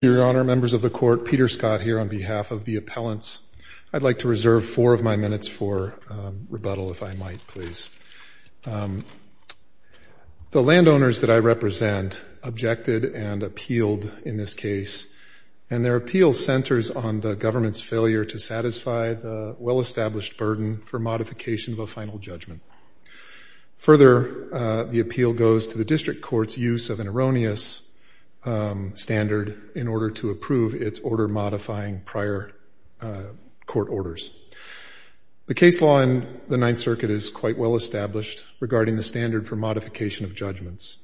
Your Honor, members of the Court, Peter Scott here on behalf of the appellants. I'd like to reserve four of my minutes for rebuttal, if I might, please. The landowners that I represent objected and appealed in this case, and their appeal centers on the government's failure to satisfy the well-established burden for modification of a final judgment. Further, the appeal goes to the district court's use of an erroneous standard in order to approve its order-modifying prior court orders. The case law in the Ninth Circuit is quite well-established regarding the standard for modification of judgments.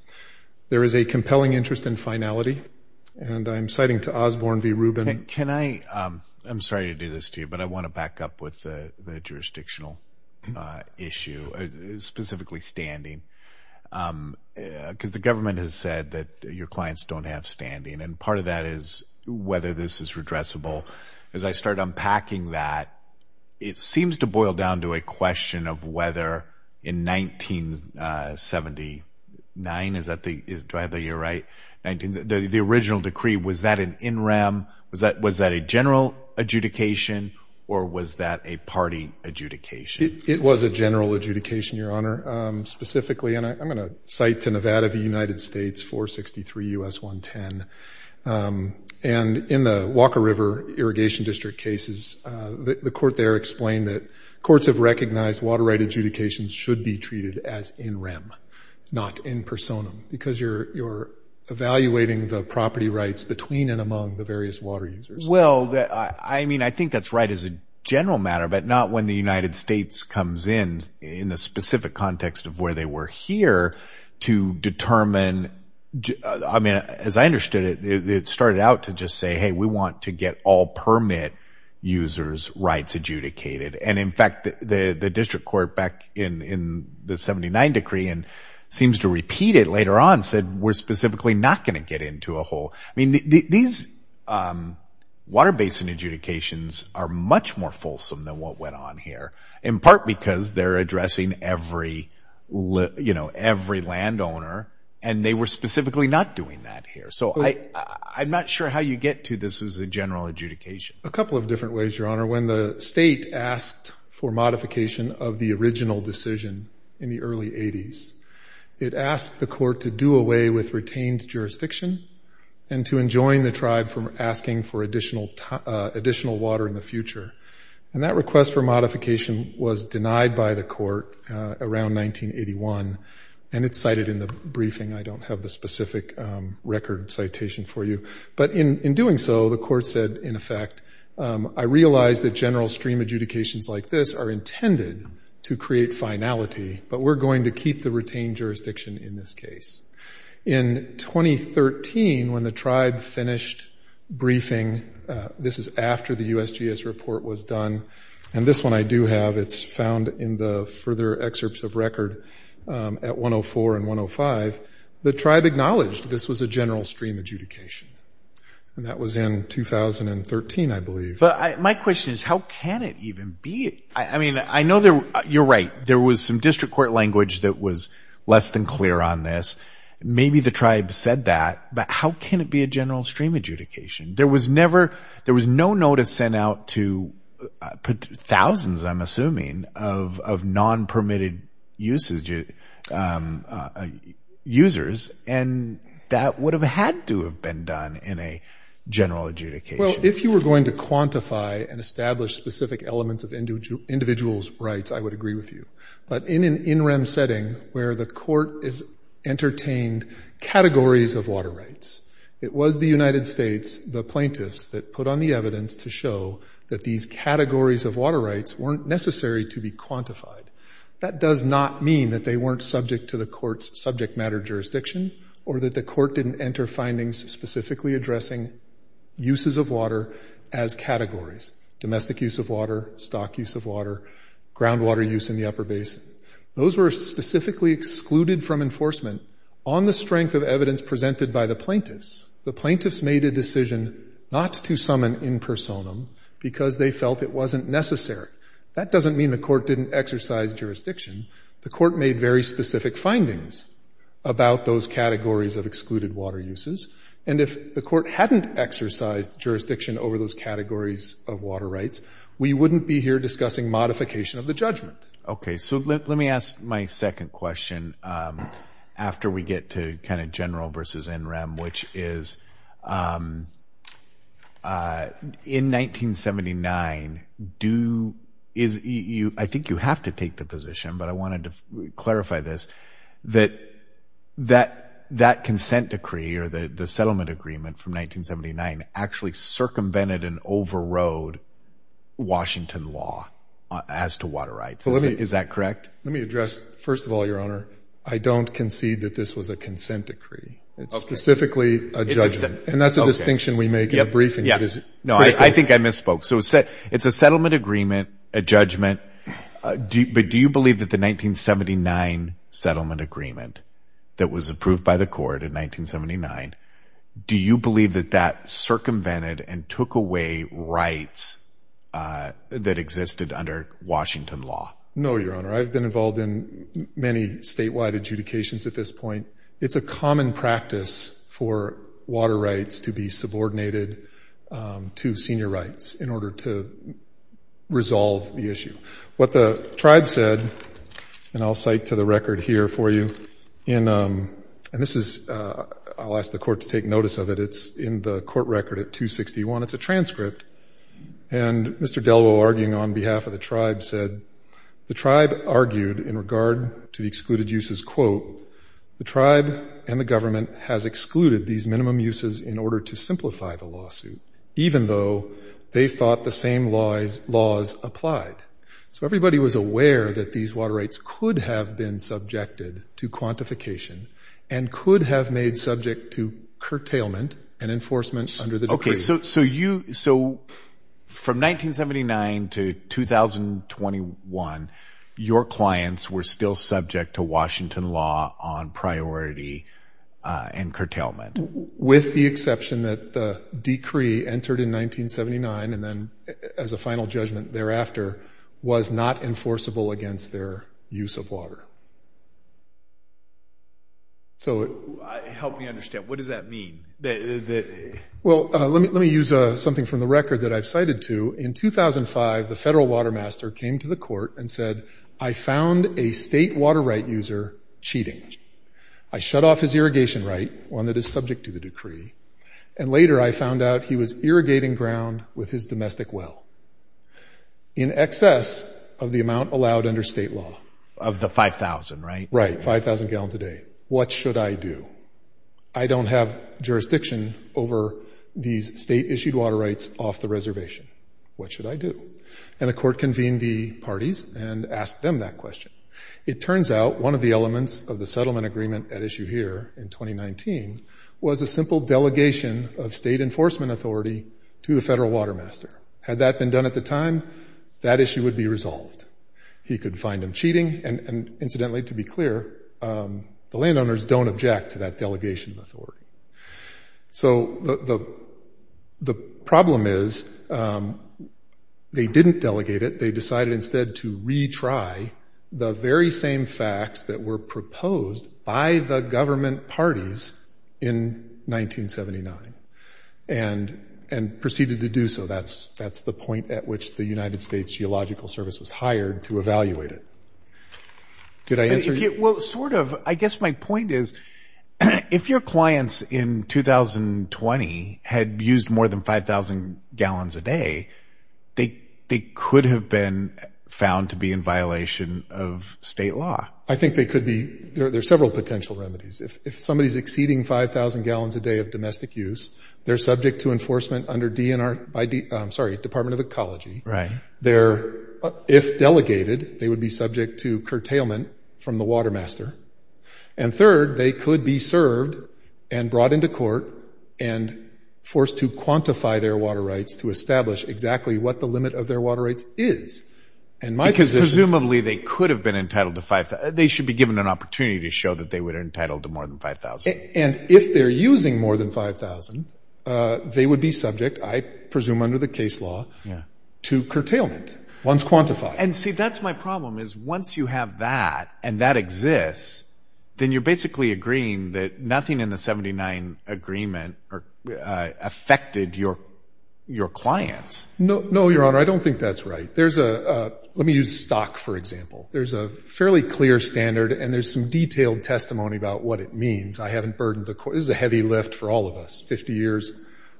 There is a compelling interest in finality, and I'm citing to Osborne v. Rubin. I'm sorry to do this to you, but I want to back up with the jurisdictional issue, specifically standing, because the government has said that your clients don't have standing, and part of that is whether this is redressable. As I start unpacking that, it seems to boil down to a question of whether in 1979, do I have the year right, the original decree, was that an in rem, was that a general adjudication, or was that a party adjudication? It was a general adjudication, Your Honor, specifically, and I'm going to cite to Nevada v. United States 463 U.S. 110. And in the Walker River Irrigation District cases, the court there explained that courts have recognized water right adjudications should be treated as in rem, not in personam, because you're evaluating the property rights between and among the various water users. Well, I mean, I think that's right as a general matter, but not when the United States comes in, in the specific context of where they were here, to determine, I mean, as I understood it, it started out to just say, hey, we want to get all permit users' rights adjudicated. And, in fact, the district court back in the 79 decree, and seems to repeat it later on, said we're specifically not going to get into a whole. I mean, these water basin adjudications are much more fulsome than what went on here, in part because they're addressing every landowner, and they were specifically not doing that here. So I'm not sure how you get to this as a general adjudication. A couple of different ways, Your Honor. When the state asked for modification of the original decision in the early 80s, it asked the court to do away with retained jurisdiction and to enjoin the tribe from asking for additional water in the future. And that request for modification was denied by the court around 1981, and it's cited in the briefing. I don't have the specific record citation for you. But in doing so, the court said, in effect, I realize that general stream adjudications like this are intended to create finality, but we're going to keep the retained jurisdiction in this case. In 2013, when the tribe finished briefing, this is after the USGS report was done, and this one I do have. It's found in the further excerpts of record at 104 and 105. The tribe acknowledged this was a general stream adjudication, and that was in 2013, I believe. But my question is, how can it even be? I mean, I know you're right. There was some district court language that was less than clear on this. Maybe the tribe said that, but how can it be a general stream adjudication? There was no notice sent out to thousands, I'm assuming, of non-permitted users, and that would have had to have been done in a general adjudication. Well, if you were going to quantify and establish specific elements of individuals' rights, I would agree with you. But in an in-rem setting where the court has entertained categories of water rights, it was the United States, the plaintiffs, that put on the evidence to show that these categories of water rights weren't necessary to be quantified. That does not mean that they weren't subject to the court's subject matter jurisdiction or that the court didn't enter findings specifically addressing uses of water as categories, domestic use of water, stock use of water, groundwater use in the upper basin. Those were specifically excluded from enforcement. On the strength of evidence presented by the plaintiffs, the plaintiffs made a decision not to summon in personam because they felt it wasn't necessary. That doesn't mean the court didn't exercise jurisdiction. The court made very specific findings about those categories of excluded water uses, and if the court hadn't exercised jurisdiction over those categories of water rights, we wouldn't be here discussing modification of the judgment. Okay, so let me ask my second question after we get to kind of general versus in-rem, which is in 1979, I think you have to take the position, but I wanted to clarify this, that that consent decree or the settlement agreement from 1979 actually circumvented and overrode Washington law as to water rights. Is that correct? Let me address, first of all, Your Honor, I don't concede that this was a consent decree. It's specifically a judgment, and that's a distinction we make in the briefing. No, I think I misspoke. So it's a settlement agreement, a judgment, but do you believe that the 1979 settlement agreement that was approved by the court in 1979, do you believe that that circumvented and took away rights that existed under Washington law? No, Your Honor. I've been involved in many statewide adjudications at this point. It's a common practice for water rights to be subordinated to senior rights in order to resolve the issue. What the tribe said, and I'll cite to the record here for you, and this is, I'll ask the court to take notice of it. It's in the court record at 261. It's a transcript, and Mr. Delwo arguing on behalf of the tribe said, the tribe argued in regard to the excluded uses, quote, the tribe and the government has excluded these minimum uses in order to simplify the lawsuit, even though they thought the same laws applied. So everybody was aware that these water rights could have been subjected to quantification and could have made subject to curtailment and enforcement under the decree. So from 1979 to 2021, your clients were still subject to Washington law on priority and curtailment. With the exception that the decree entered in 1979 and then as a final judgment thereafter, was not enforceable against their use of water. Help me understand. What does that mean? Well, let me use something from the record that I've cited to. In 2005, the federal water master came to the court and said, I found a state water right user cheating. I shut off his irrigation right, one that is subject to the decree, and later I found out he was irrigating ground with his domestic well in excess of the amount allowed under state law. Of the 5,000, right? Right, 5,000 gallons a day. What should I do? I don't have jurisdiction over these state issued water rights off the reservation. What should I do? And the court convened the parties and asked them that question. It turns out one of the elements of the settlement agreement at issue here in 2019 was a simple delegation of state enforcement authority to the federal water master. Had that been done at the time, that issue would be resolved. He could find them cheating, and incidentally, to be clear, the landowners don't object to that delegation of authority. So the problem is they didn't delegate it. They decided instead to retry the very same facts that were proposed by the government parties in 1979 and proceeded to do so. That's the point at which the United States Geological Service was hired to evaluate it. Did I answer your question? Well, sort of. I guess my point is if your clients in 2020 had used more than 5,000 gallons a day, they could have been found to be in violation of state law. I think they could be. There are several potential remedies. If somebody is exceeding 5,000 gallons a day of domestic use, they're subject to enforcement under Department of Ecology. If delegated, they would be subject to curtailment from the water master. And third, they could be served and brought into court and forced to quantify their water rights to establish exactly what the limit of their water rights is. Because presumably they could have been entitled to 5,000. They should be given an opportunity to show that they were entitled to more than 5,000. And if they're using more than 5,000, they would be subject, I presume under the case law, to curtailment. Once quantified. And see, that's my problem is once you have that and that exists, then you're basically agreeing that nothing in the 79 agreement affected your clients. No, Your Honor. I don't think that's right. Let me use stock, for example. There's a fairly clear standard and there's some detailed testimony about what it means. I haven't burdened the court. This is a heavy lift for all of us, 50 years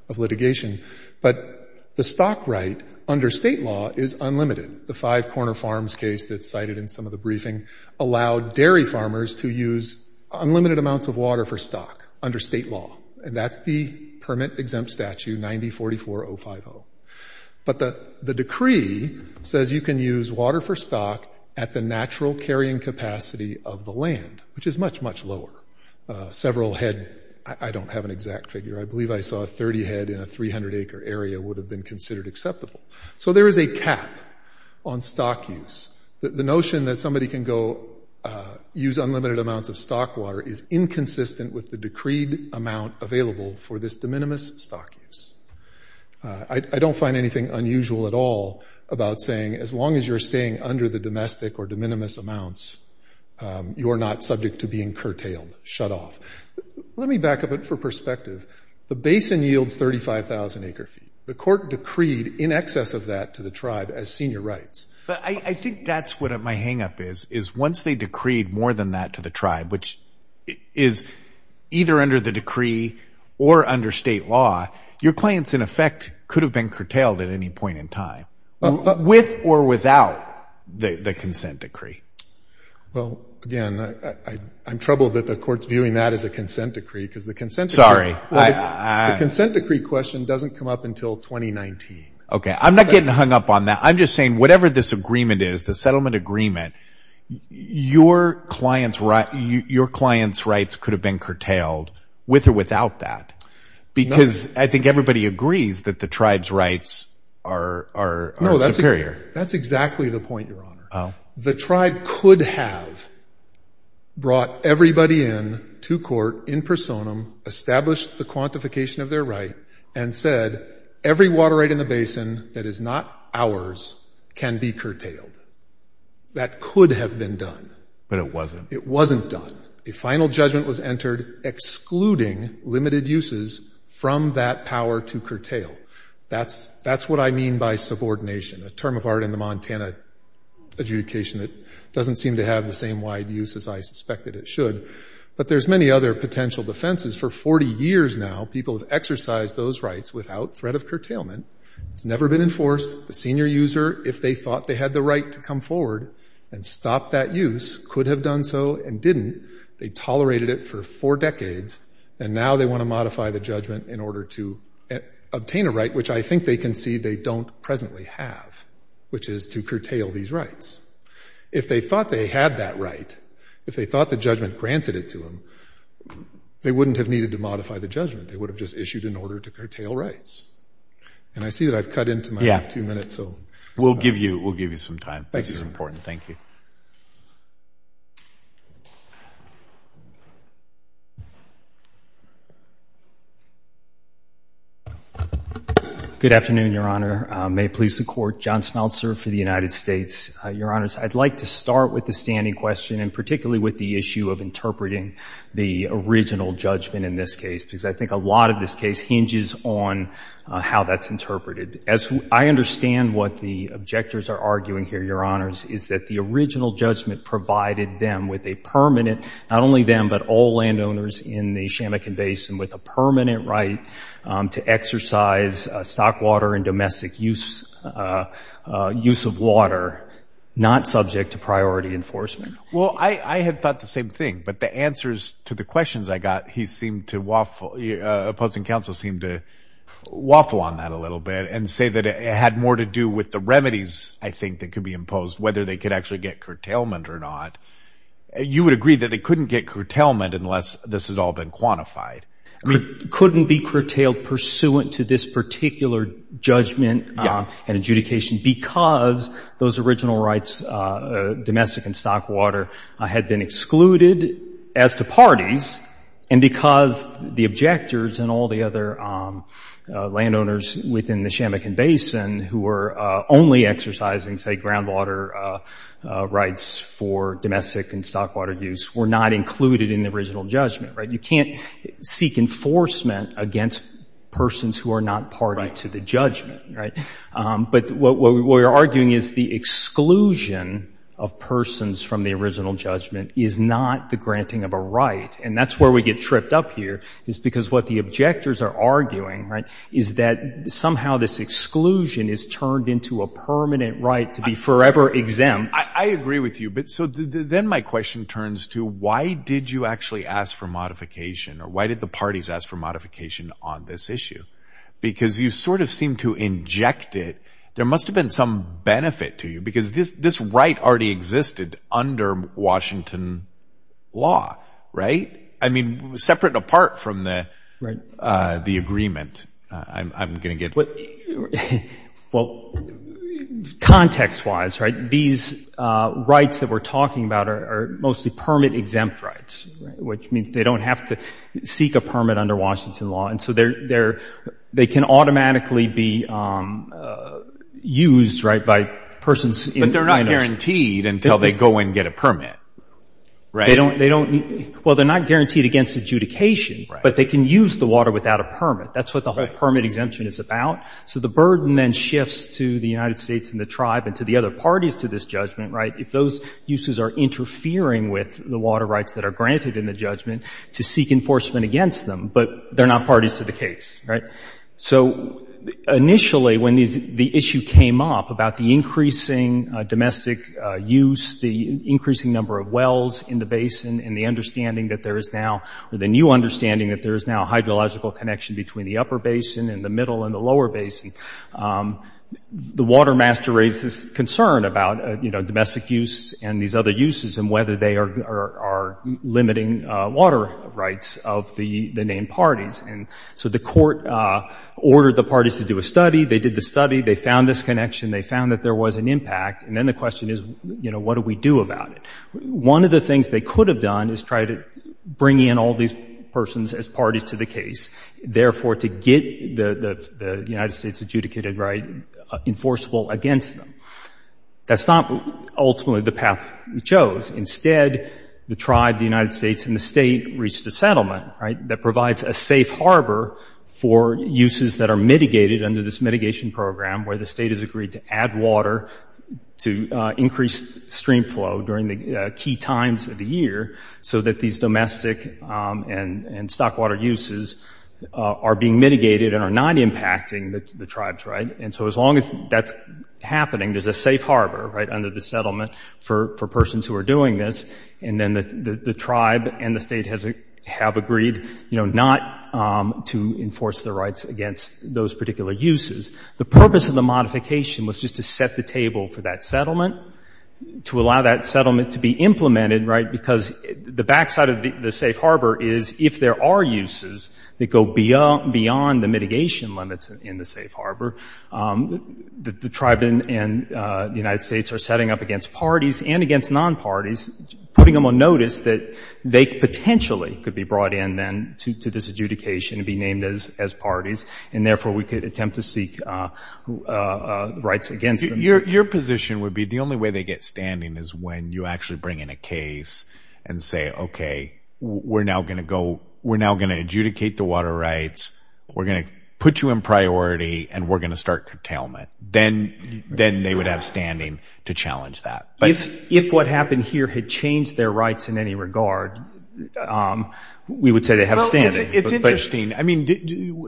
of litigation. But the stock right under state law is unlimited. The Five Corner Farms case that's cited in some of the briefing allowed dairy farmers to use unlimited amounts of water for stock under state law. And that's the permit-exempt statute 90-44050. But the decree says you can use water for stock at the natural carrying capacity of the land, which is much, much lower. Several head, I don't have an exact figure. I believe I saw 30 head in a 300-acre area would have been considered acceptable. So there is a cap on stock use. The notion that somebody can go use unlimited amounts of stock water is inconsistent with the decreed amount available for this de minimis stock use. I don't find anything unusual at all about saying as long as you're staying under the domestic or de minimis amounts, you are not subject to being curtailed, shut off. Let me back up it for perspective. The basin yields 35,000 acre feet. The court decreed in excess of that to the tribe as senior rights. But I think that's what my hangup is, is once they decreed more than that to the tribe, which is either under the decree or under state law, your claims, in effect, could have been curtailed at any point in time, with or without the consent decree. Well, again, I'm troubled that the court's viewing that as a consent decree because the consent decree question doesn't come up until 2019. Okay. I'm not getting hung up on that. I'm just saying whatever this agreement is, the settlement agreement, your client's rights could have been curtailed with or without that because I think everybody agrees that the tribe's rights are superior. No, that's exactly the point, Your Honor. The tribe could have brought everybody in to court in personam, established the quantification of their right, and said every water right in the basin that is not ours can be curtailed. That could have been done. But it wasn't. It wasn't done. A final judgment was entered excluding limited uses from that power to curtail. That's what I mean by subordination, a term of art in the Montana adjudication that doesn't seem to have the same wide use as I suspected it should. But there's many other potential defenses. For 40 years now, people have exercised those rights without threat of curtailment. It's never been enforced. The senior user, if they thought they had the right to come forward and stop that use, could have done so and didn't. They tolerated it for four decades, and now they want to modify the judgment in order to obtain a right, which I think they concede they don't presently have, which is to curtail these rights. If they thought they had that right, if they thought the judgment granted it to them, they wouldn't have needed to modify the judgment. They would have just issued an order to curtail rights. And I see that I've cut into my two minutes. We'll give you some time. This is important. Thank you. Good afternoon, Your Honor. May it please the Court. John Smeltzer for the United States. Your Honors, I'd like to start with the standing question, and particularly with the issue of interpreting the original judgment in this case, because I think a lot of this case hinges on how that's interpreted. I understand what the objectors are arguing here, Your Honors, is that the original judgment provided them with a permanent, not only them, but all landowners in the Shamekin Basin, with a permanent right to exercise stock water and domestic use of water, not subject to priority enforcement. Well, I had thought the same thing, but the answers to the questions I got, he seemed to waffle, opposing counsel seemed to waffle on that a little bit and say that it had more to do with the remedies, I think, that could be imposed, whether they could actually get curtailment or not. You would agree that they couldn't get curtailment unless this had all been quantified. It couldn't be curtailed pursuant to this particular judgment and adjudication because those original rights, domestic and stock water, had been excluded as to parties, and because the objectors and all the other landowners within the Shamekin Basin who were only exercising, say, groundwater rights for domestic and stock water use were not included in the original judgment. You can't seek enforcement against persons who are not party to the judgment. But what we're arguing is the exclusion of persons from the original judgment is not the granting of a right, and that's where we get tripped up here is because what the objectors are arguing is that somehow this exclusion is turned into a permanent right to be forever exempt. I agree with you, but then my question turns to why did you actually ask for modification or why did the parties ask for modification on this issue? Because you sort of seem to inject it. There must have been some benefit to you because this right already existed under Washington law, right? I mean, separate and apart from the agreement. I'm going to get... Well, context-wise, these rights that we're talking about are mostly permit-exempt rights, which means they don't have to seek a permit under Washington law, and so they can automatically be used by persons... But they're not guaranteed until they go and get a permit, right? Well, they're not guaranteed against adjudication, but they can use the water without a permit. That's what the whole permit exemption is about. So the burden then shifts to the United States and the tribe and to the other parties to this judgment. If those uses are interfering with the water rights that are granted in the judgment to seek enforcement against them, but they're not parties to the case, right? So initially, when the issue came up about the increasing domestic use, the increasing number of wells in the basin, and the understanding that there is now... or the new understanding that there is now a hydrological connection between the upper basin and the middle and the lower basin, the water master raised this concern about, you know, domestic use and these other uses and whether they are limiting water rights of the named parties. And so the court ordered the parties to do a study. They did the study. They found this connection. They found that there was an impact. And then the question is, you know, what do we do about it? One of the things they could have done is try to bring in all these persons as parties to the case, therefore to get the United States' adjudicated right enforceable against them. That's not ultimately the path we chose. Instead, the tribe, the United States, and the state reached a settlement, right, that provides a safe harbor for uses that are mitigated under this mitigation program where the state has agreed to add water to increase stream flow during the key times of the year so that these domestic and stock water uses are being mitigated and are not impacting the tribes, right? And so as long as that's happening, there's a safe harbor, right, under the settlement for persons who are doing this. And then the tribe and the state have agreed, you know, not to enforce the rights against those particular uses. The purpose of the modification was just to set the table for that settlement, to allow that settlement to be implemented, right, because the backside of the safe harbor is if there are uses that go beyond the mitigation limits in the safe harbor, the tribe and the United States are setting up against parties and against non-parties, putting them on notice that they potentially could be brought in then to this adjudication and be named as parties, and therefore we could attempt to seek rights against them. Your position would be the only way they get standing is when you actually bring in a case and say, okay, we're now going to adjudicate the water rights, we're going to put you in priority, and we're going to start curtailment. Then they would have standing to challenge that. If what happened here had changed their rights in any regard, we would say they have standing. Well, it's interesting. I mean,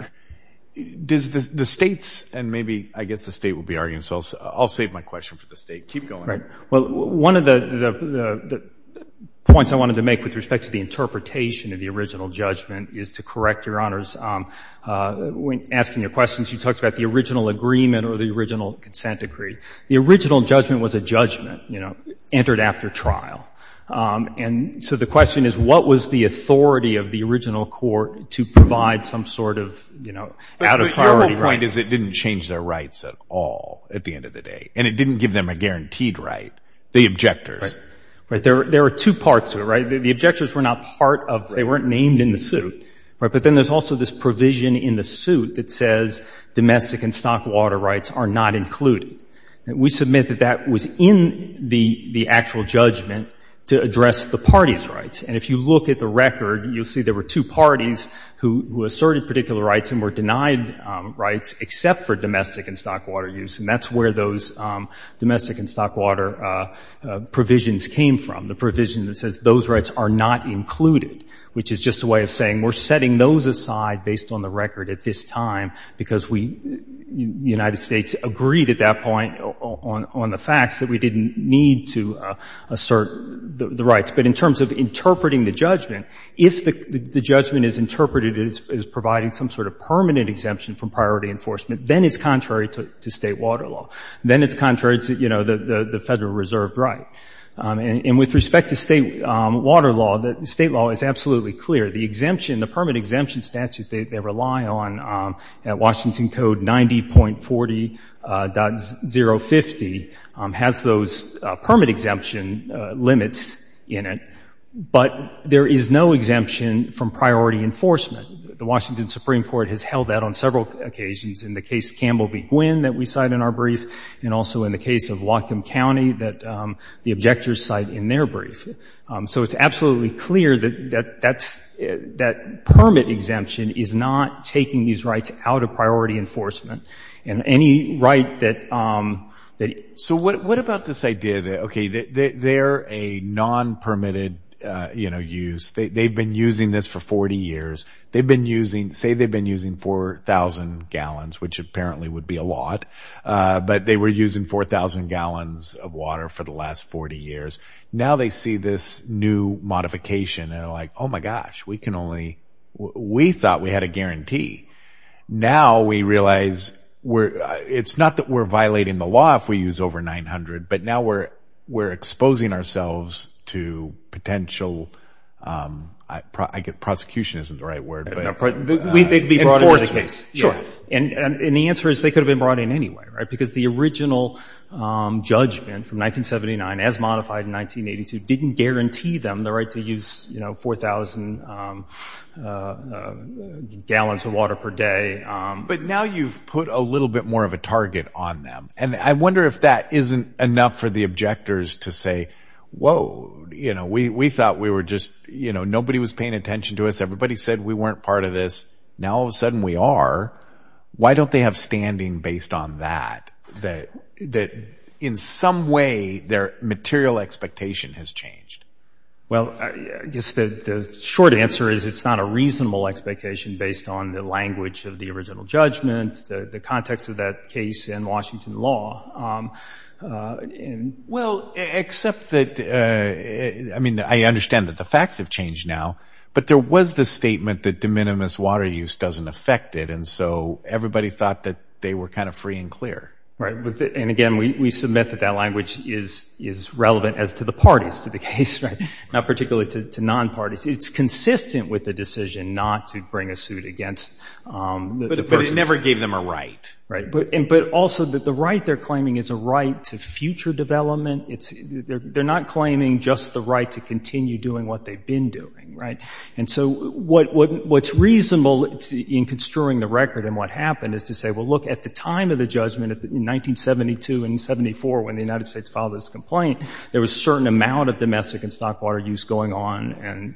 does the states, and maybe I guess the state will be arguing, so I'll save my question for the state. Keep going. Right. Well, one of the points I wanted to make with respect to the interpretation of the original judgment is to correct Your Honors. When asking the questions, you talked about the original agreement or the original consent decree. The original judgment was a judgment, you know, entered after trial. And so the question is what was the authority of the original court to provide some sort of, you know, out-of-priority rights? But your whole point is it didn't change their rights at all at the end of the day, and it didn't give them a guaranteed right, the objectors. Right. There are two parts to it, right? The objectors were not part of, they weren't named in the suit, right? But then there's also this provision in the suit that says domestic and stock water rights are not included. We submit that that was in the actual judgment to address the party's rights. And if you look at the record, you'll see there were two parties who asserted particular rights and were denied rights except for domestic and stock water use, and that's where those domestic and stock water provisions came from, the provision that says those rights are not included, which is just a way of saying we're setting those aside based on the record at this time because we, the United States agreed at that point on the facts that we didn't need to assert the rights. But in terms of interpreting the judgment, if the judgment is interpreted as providing some sort of permanent exemption from priority enforcement, then it's contrary to State water law. Then it's contrary to, you know, the Federal reserve right. And with respect to State water law, the State law is absolutely clear. The exemption, the permit exemption statute they rely on at Washington Code 90.40.050 has those permit exemption limits in it, but there is no exemption from priority enforcement. The Washington Supreme Court has held that on several occasions, in the case Campbell v. Gwynn that we cite in our brief, and also in the case of Whatcom County that the objectors cite in their brief. So it's absolutely clear that permit exemption is not taking these rights out of priority enforcement. And any right that... So what about this idea that, okay, they're a non-permitted, you know, use. They've been using this for 40 years. They've been using, say they've been using 4,000 gallons, which apparently would be a lot, but they were using 4,000 gallons of water for the last 40 years. Now they see this new modification and are like, oh, my gosh, we can only... We thought we had a guarantee. Now we realize it's not that we're violating the law if we use over 900, but now we're exposing ourselves to potential, I guess prosecution isn't the right word, but enforcement. And the answer is they could have been brought in anyway, right, because the original judgment from 1979, as modified in 1982, didn't guarantee them the right to use, you know, 4,000 gallons of water per day. But now you've put a little bit more of a target on them. And I wonder if that isn't enough for the objectors to say, whoa, you know, we thought we were just, you know, nobody was paying attention to us. Everybody said we weren't part of this. Now all of a sudden we are. Why don't they have standing based on that, that in some way their material expectation has changed? Well, I guess the short answer is it's not a reasonable expectation based on the language of the original judgment, the context of that case in Washington law. Well, except that, I mean, I understand that the facts have changed now, but there was the statement that de minimis water use doesn't affect it, and so everybody thought that they were kind of free and clear. Right. And, again, we submit that that language is relevant as to the parties to the case, right, not particularly to non-parties. It's consistent with the decision not to bring a suit against the person. But it never gave them a right. Right. But also the right they're claiming is a right to future development. They're not claiming just the right to continue doing what they've been doing. Right. And so what's reasonable in construing the record and what happened is to say, well, look, at the time of the judgment, in 1972 and 74, when the United States filed this complaint, there was a certain amount of domestic and stock water use going on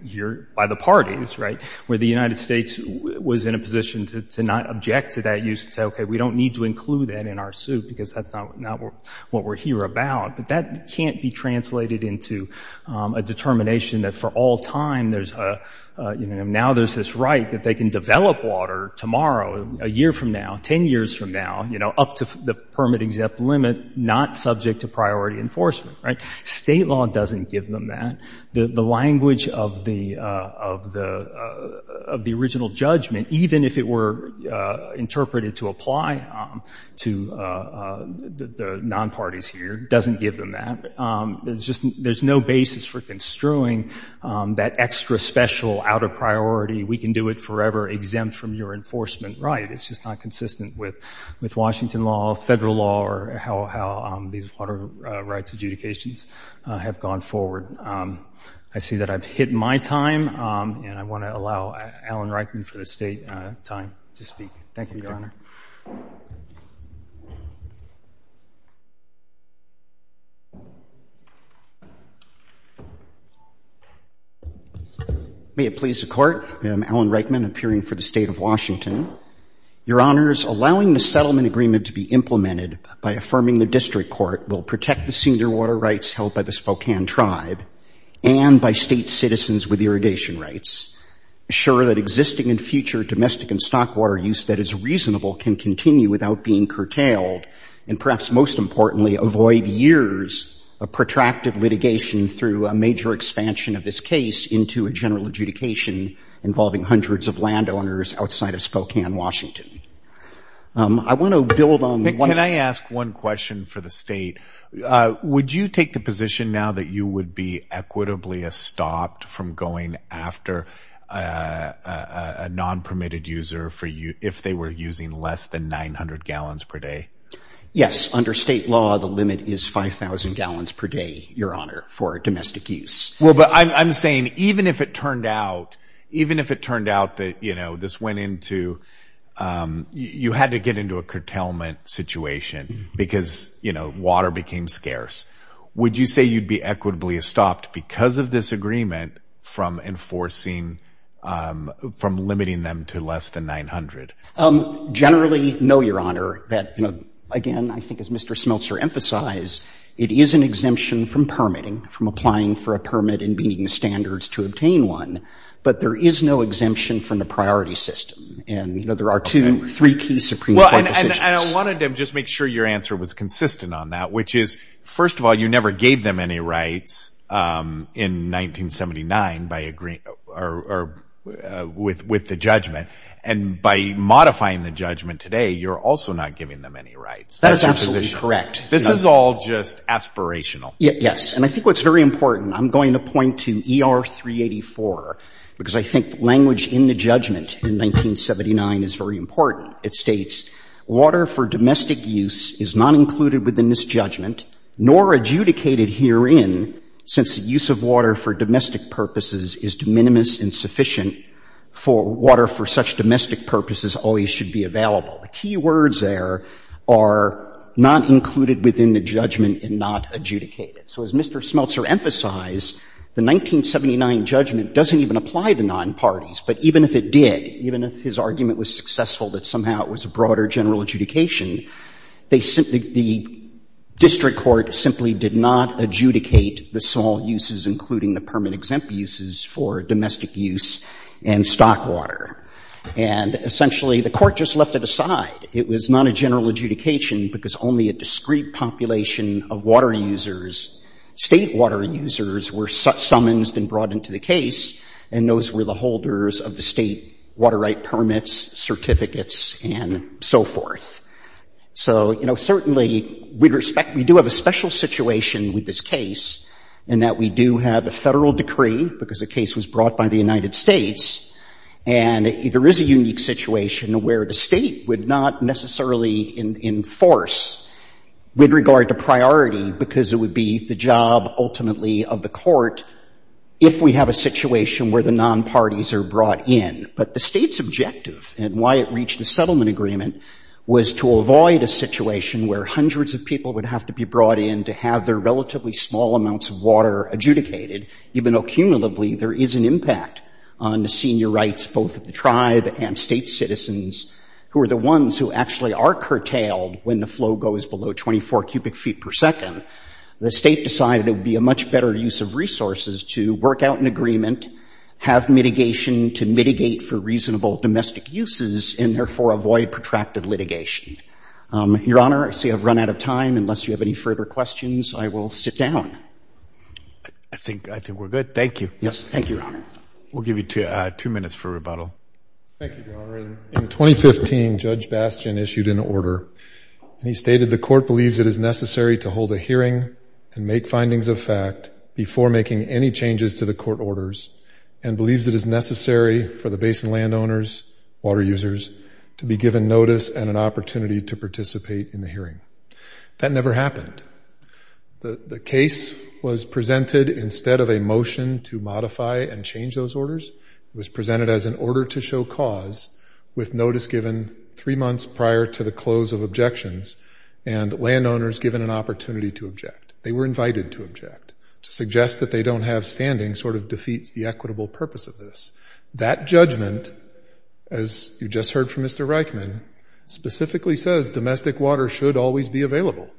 by the parties, right, where the United States was in a position to not object to that use and say, okay, we don't need to include that in our suit because that's not what we're here about. But that can't be translated into a determination that for all time there's a, you know, now there's this right that they can develop water tomorrow, a year from now, 10 years from now, you know, up to the permit-exempt limit, not subject to priority enforcement. Right. State law doesn't give them that. The language of the original judgment, even if it were interpreted to apply to the non-parties here, doesn't give them that. There's no basis for construing that extra special outer priority, we can do it forever, exempt from your enforcement. Right. It's just not consistent with Washington law, federal law, or how these water rights adjudications have gone forward. I see that I've hit my time, and I want to allow Alan Reichman for the state time to speak. Thank you, Your Honor. May it please the Court, I am Alan Reichman, appearing for the State of Washington. Your Honors, allowing the settlement agreement to be implemented by affirming the district court will protect the senior water rights held by the Spokane Tribe and by state citizens with irrigation rights, assure that existing and future domestic and stock water use that is reasonable can continue without being curtailed, and perhaps most importantly, avoid years of protracted litigation through a major expansion of this case into a general adjudication involving hundreds of landowners outside of Spokane, Washington. I want to build on one of the- Can I ask one question for the state? Would you take the position now that you would be equitably stopped from going after a non-permitted user if they were using less than 900 gallons per day? Yes. Under state law, the limit is 5,000 gallons per day, Your Honor, for domestic use. Well, but I'm saying even if it turned out that this went into- because, you know, water became scarce, would you say you'd be equitably stopped because of this agreement from enforcing- from limiting them to less than 900? Generally, no, Your Honor. Again, I think as Mr. Smeltzer emphasized, it is an exemption from permitting, from applying for a permit and meeting the standards to obtain one, but there is no exemption from the priority system. And, you know, there are two, three key Supreme Court decisions. Well, and I wanted to just make sure your answer was consistent on that, which is, first of all, you never gave them any rights in 1979 by agreeing- or with the judgment. And by modifying the judgment today, you're also not giving them any rights. That is absolutely correct. This is all just aspirational. Yes. And I think what's very important, I'm going to point to ER 384, because I think language in the judgment in 1979 is very important. It states, Water for domestic use is not included within this judgment, nor adjudicated herein, since the use of water for domestic purposes is de minimis insufficient for water for such domestic purposes always should be available. The key words there are not included within the judgment and not adjudicated. So as Mr. Smeltzer emphasized, the 1979 judgment doesn't even apply to nonparties, but even if it did, even if his argument was successful that somehow it was a broader general adjudication, they simply, the district court simply did not adjudicate the small uses, including the permit-exempt uses for domestic use and stock water. And essentially, the court just left it aside. It was not a general adjudication because only a discrete population of water users, State water users, were summonsed and brought into the case, and those were the holders of the State water right permits, certificates, and so forth. So, you know, certainly we respect, we do have a special situation with this case in that we do have a Federal decree, because the case was brought by the United States, and there is a unique situation where the State would not necessarily enforce with regard to priority, because it would be the job, ultimately, of the court if we have a situation where the nonparties are brought in. But the State's objective and why it reached a settlement agreement was to avoid a situation where hundreds of people would have to be brought in to have their relatively small amounts of water adjudicated, even though cumulatively there is an impact on the senior rights both of the tribe and State citizens, who are the ones who actually are curtailed when the flow goes below 24 cubic feet per second. The State decided it would be a much better use of resources to work out an agreement, have mitigation to mitigate for reasonable domestic uses, and therefore avoid protracted litigation. Your Honor, I see I've run out of time. Unless you have any further questions, I will sit down. I think we're good. Thank you. Yes, thank you, Your Honor. In 2015, Judge Bastian issued an order, and he stated the court believes it is necessary to hold a hearing and make findings of fact before making any changes to the court orders and believes it is necessary for the basin landowners, water users, to be given notice and an opportunity to participate in the hearing. That never happened. The case was presented instead of a motion to modify and change those orders. It was presented as an order to show cause with notice given three months prior to the close of objections and landowners given an opportunity to object. They were invited to object. To suggest that they don't have standing sort of defeats the equitable purpose of this. That judgment, as you just heard from Mr. Reichman, specifically says domestic water should always be available.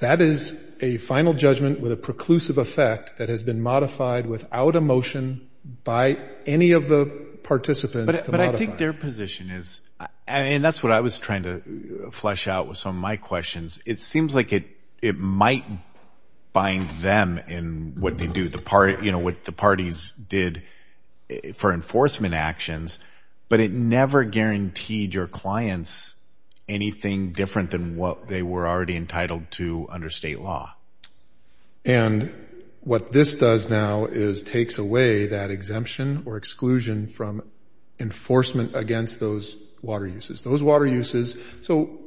That is a final judgment with a preclusive effect that has been modified without a motion by any of the participants to modify it. But I think their position is, and that's what I was trying to flesh out with some of my questions, it seems like it might bind them in what they do, what the parties did for enforcement actions, but it never guaranteed your clients anything different than what they were already entitled to under state law. And what this does now is takes away that exemption or exclusion from enforcement against those water uses. So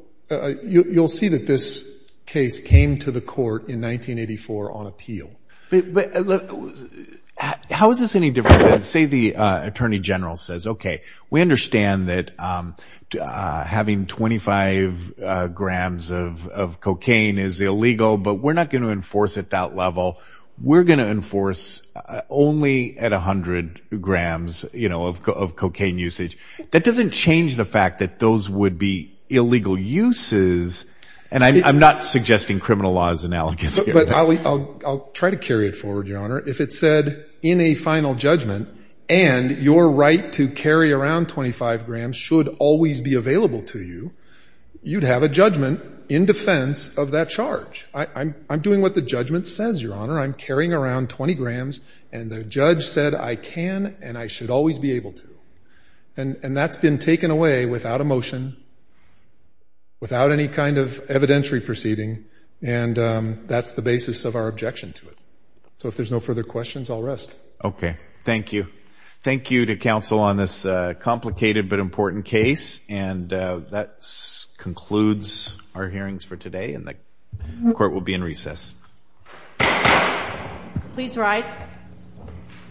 you'll see that this case came to the court in 1984 on appeal. How is this any different than say the attorney general says, okay, we understand that having 25 grams of cocaine is illegal, but we're not going to enforce at that level. We're going to enforce only at 100 grams of cocaine usage. That doesn't change the fact that those would be illegal uses, and I'm not suggesting criminal law is analogous here. I'll try to carry it forward, Your Honor. If it said in a final judgment, and your right to carry around 25 grams should always be available to you, you'd have a judgment in defense of that charge. I'm doing what the judgment says, Your Honor. I'm carrying around 20 grams, and the judge said I can and I should always be able to. And that's been taken away without a motion, without any kind of evidentiary proceeding, and that's the basis of our objection to it. So if there's no further questions, I'll rest. Okay, thank you. Thank you to counsel on this complicated but important case, and that concludes our hearings for today, and the court will be in recess.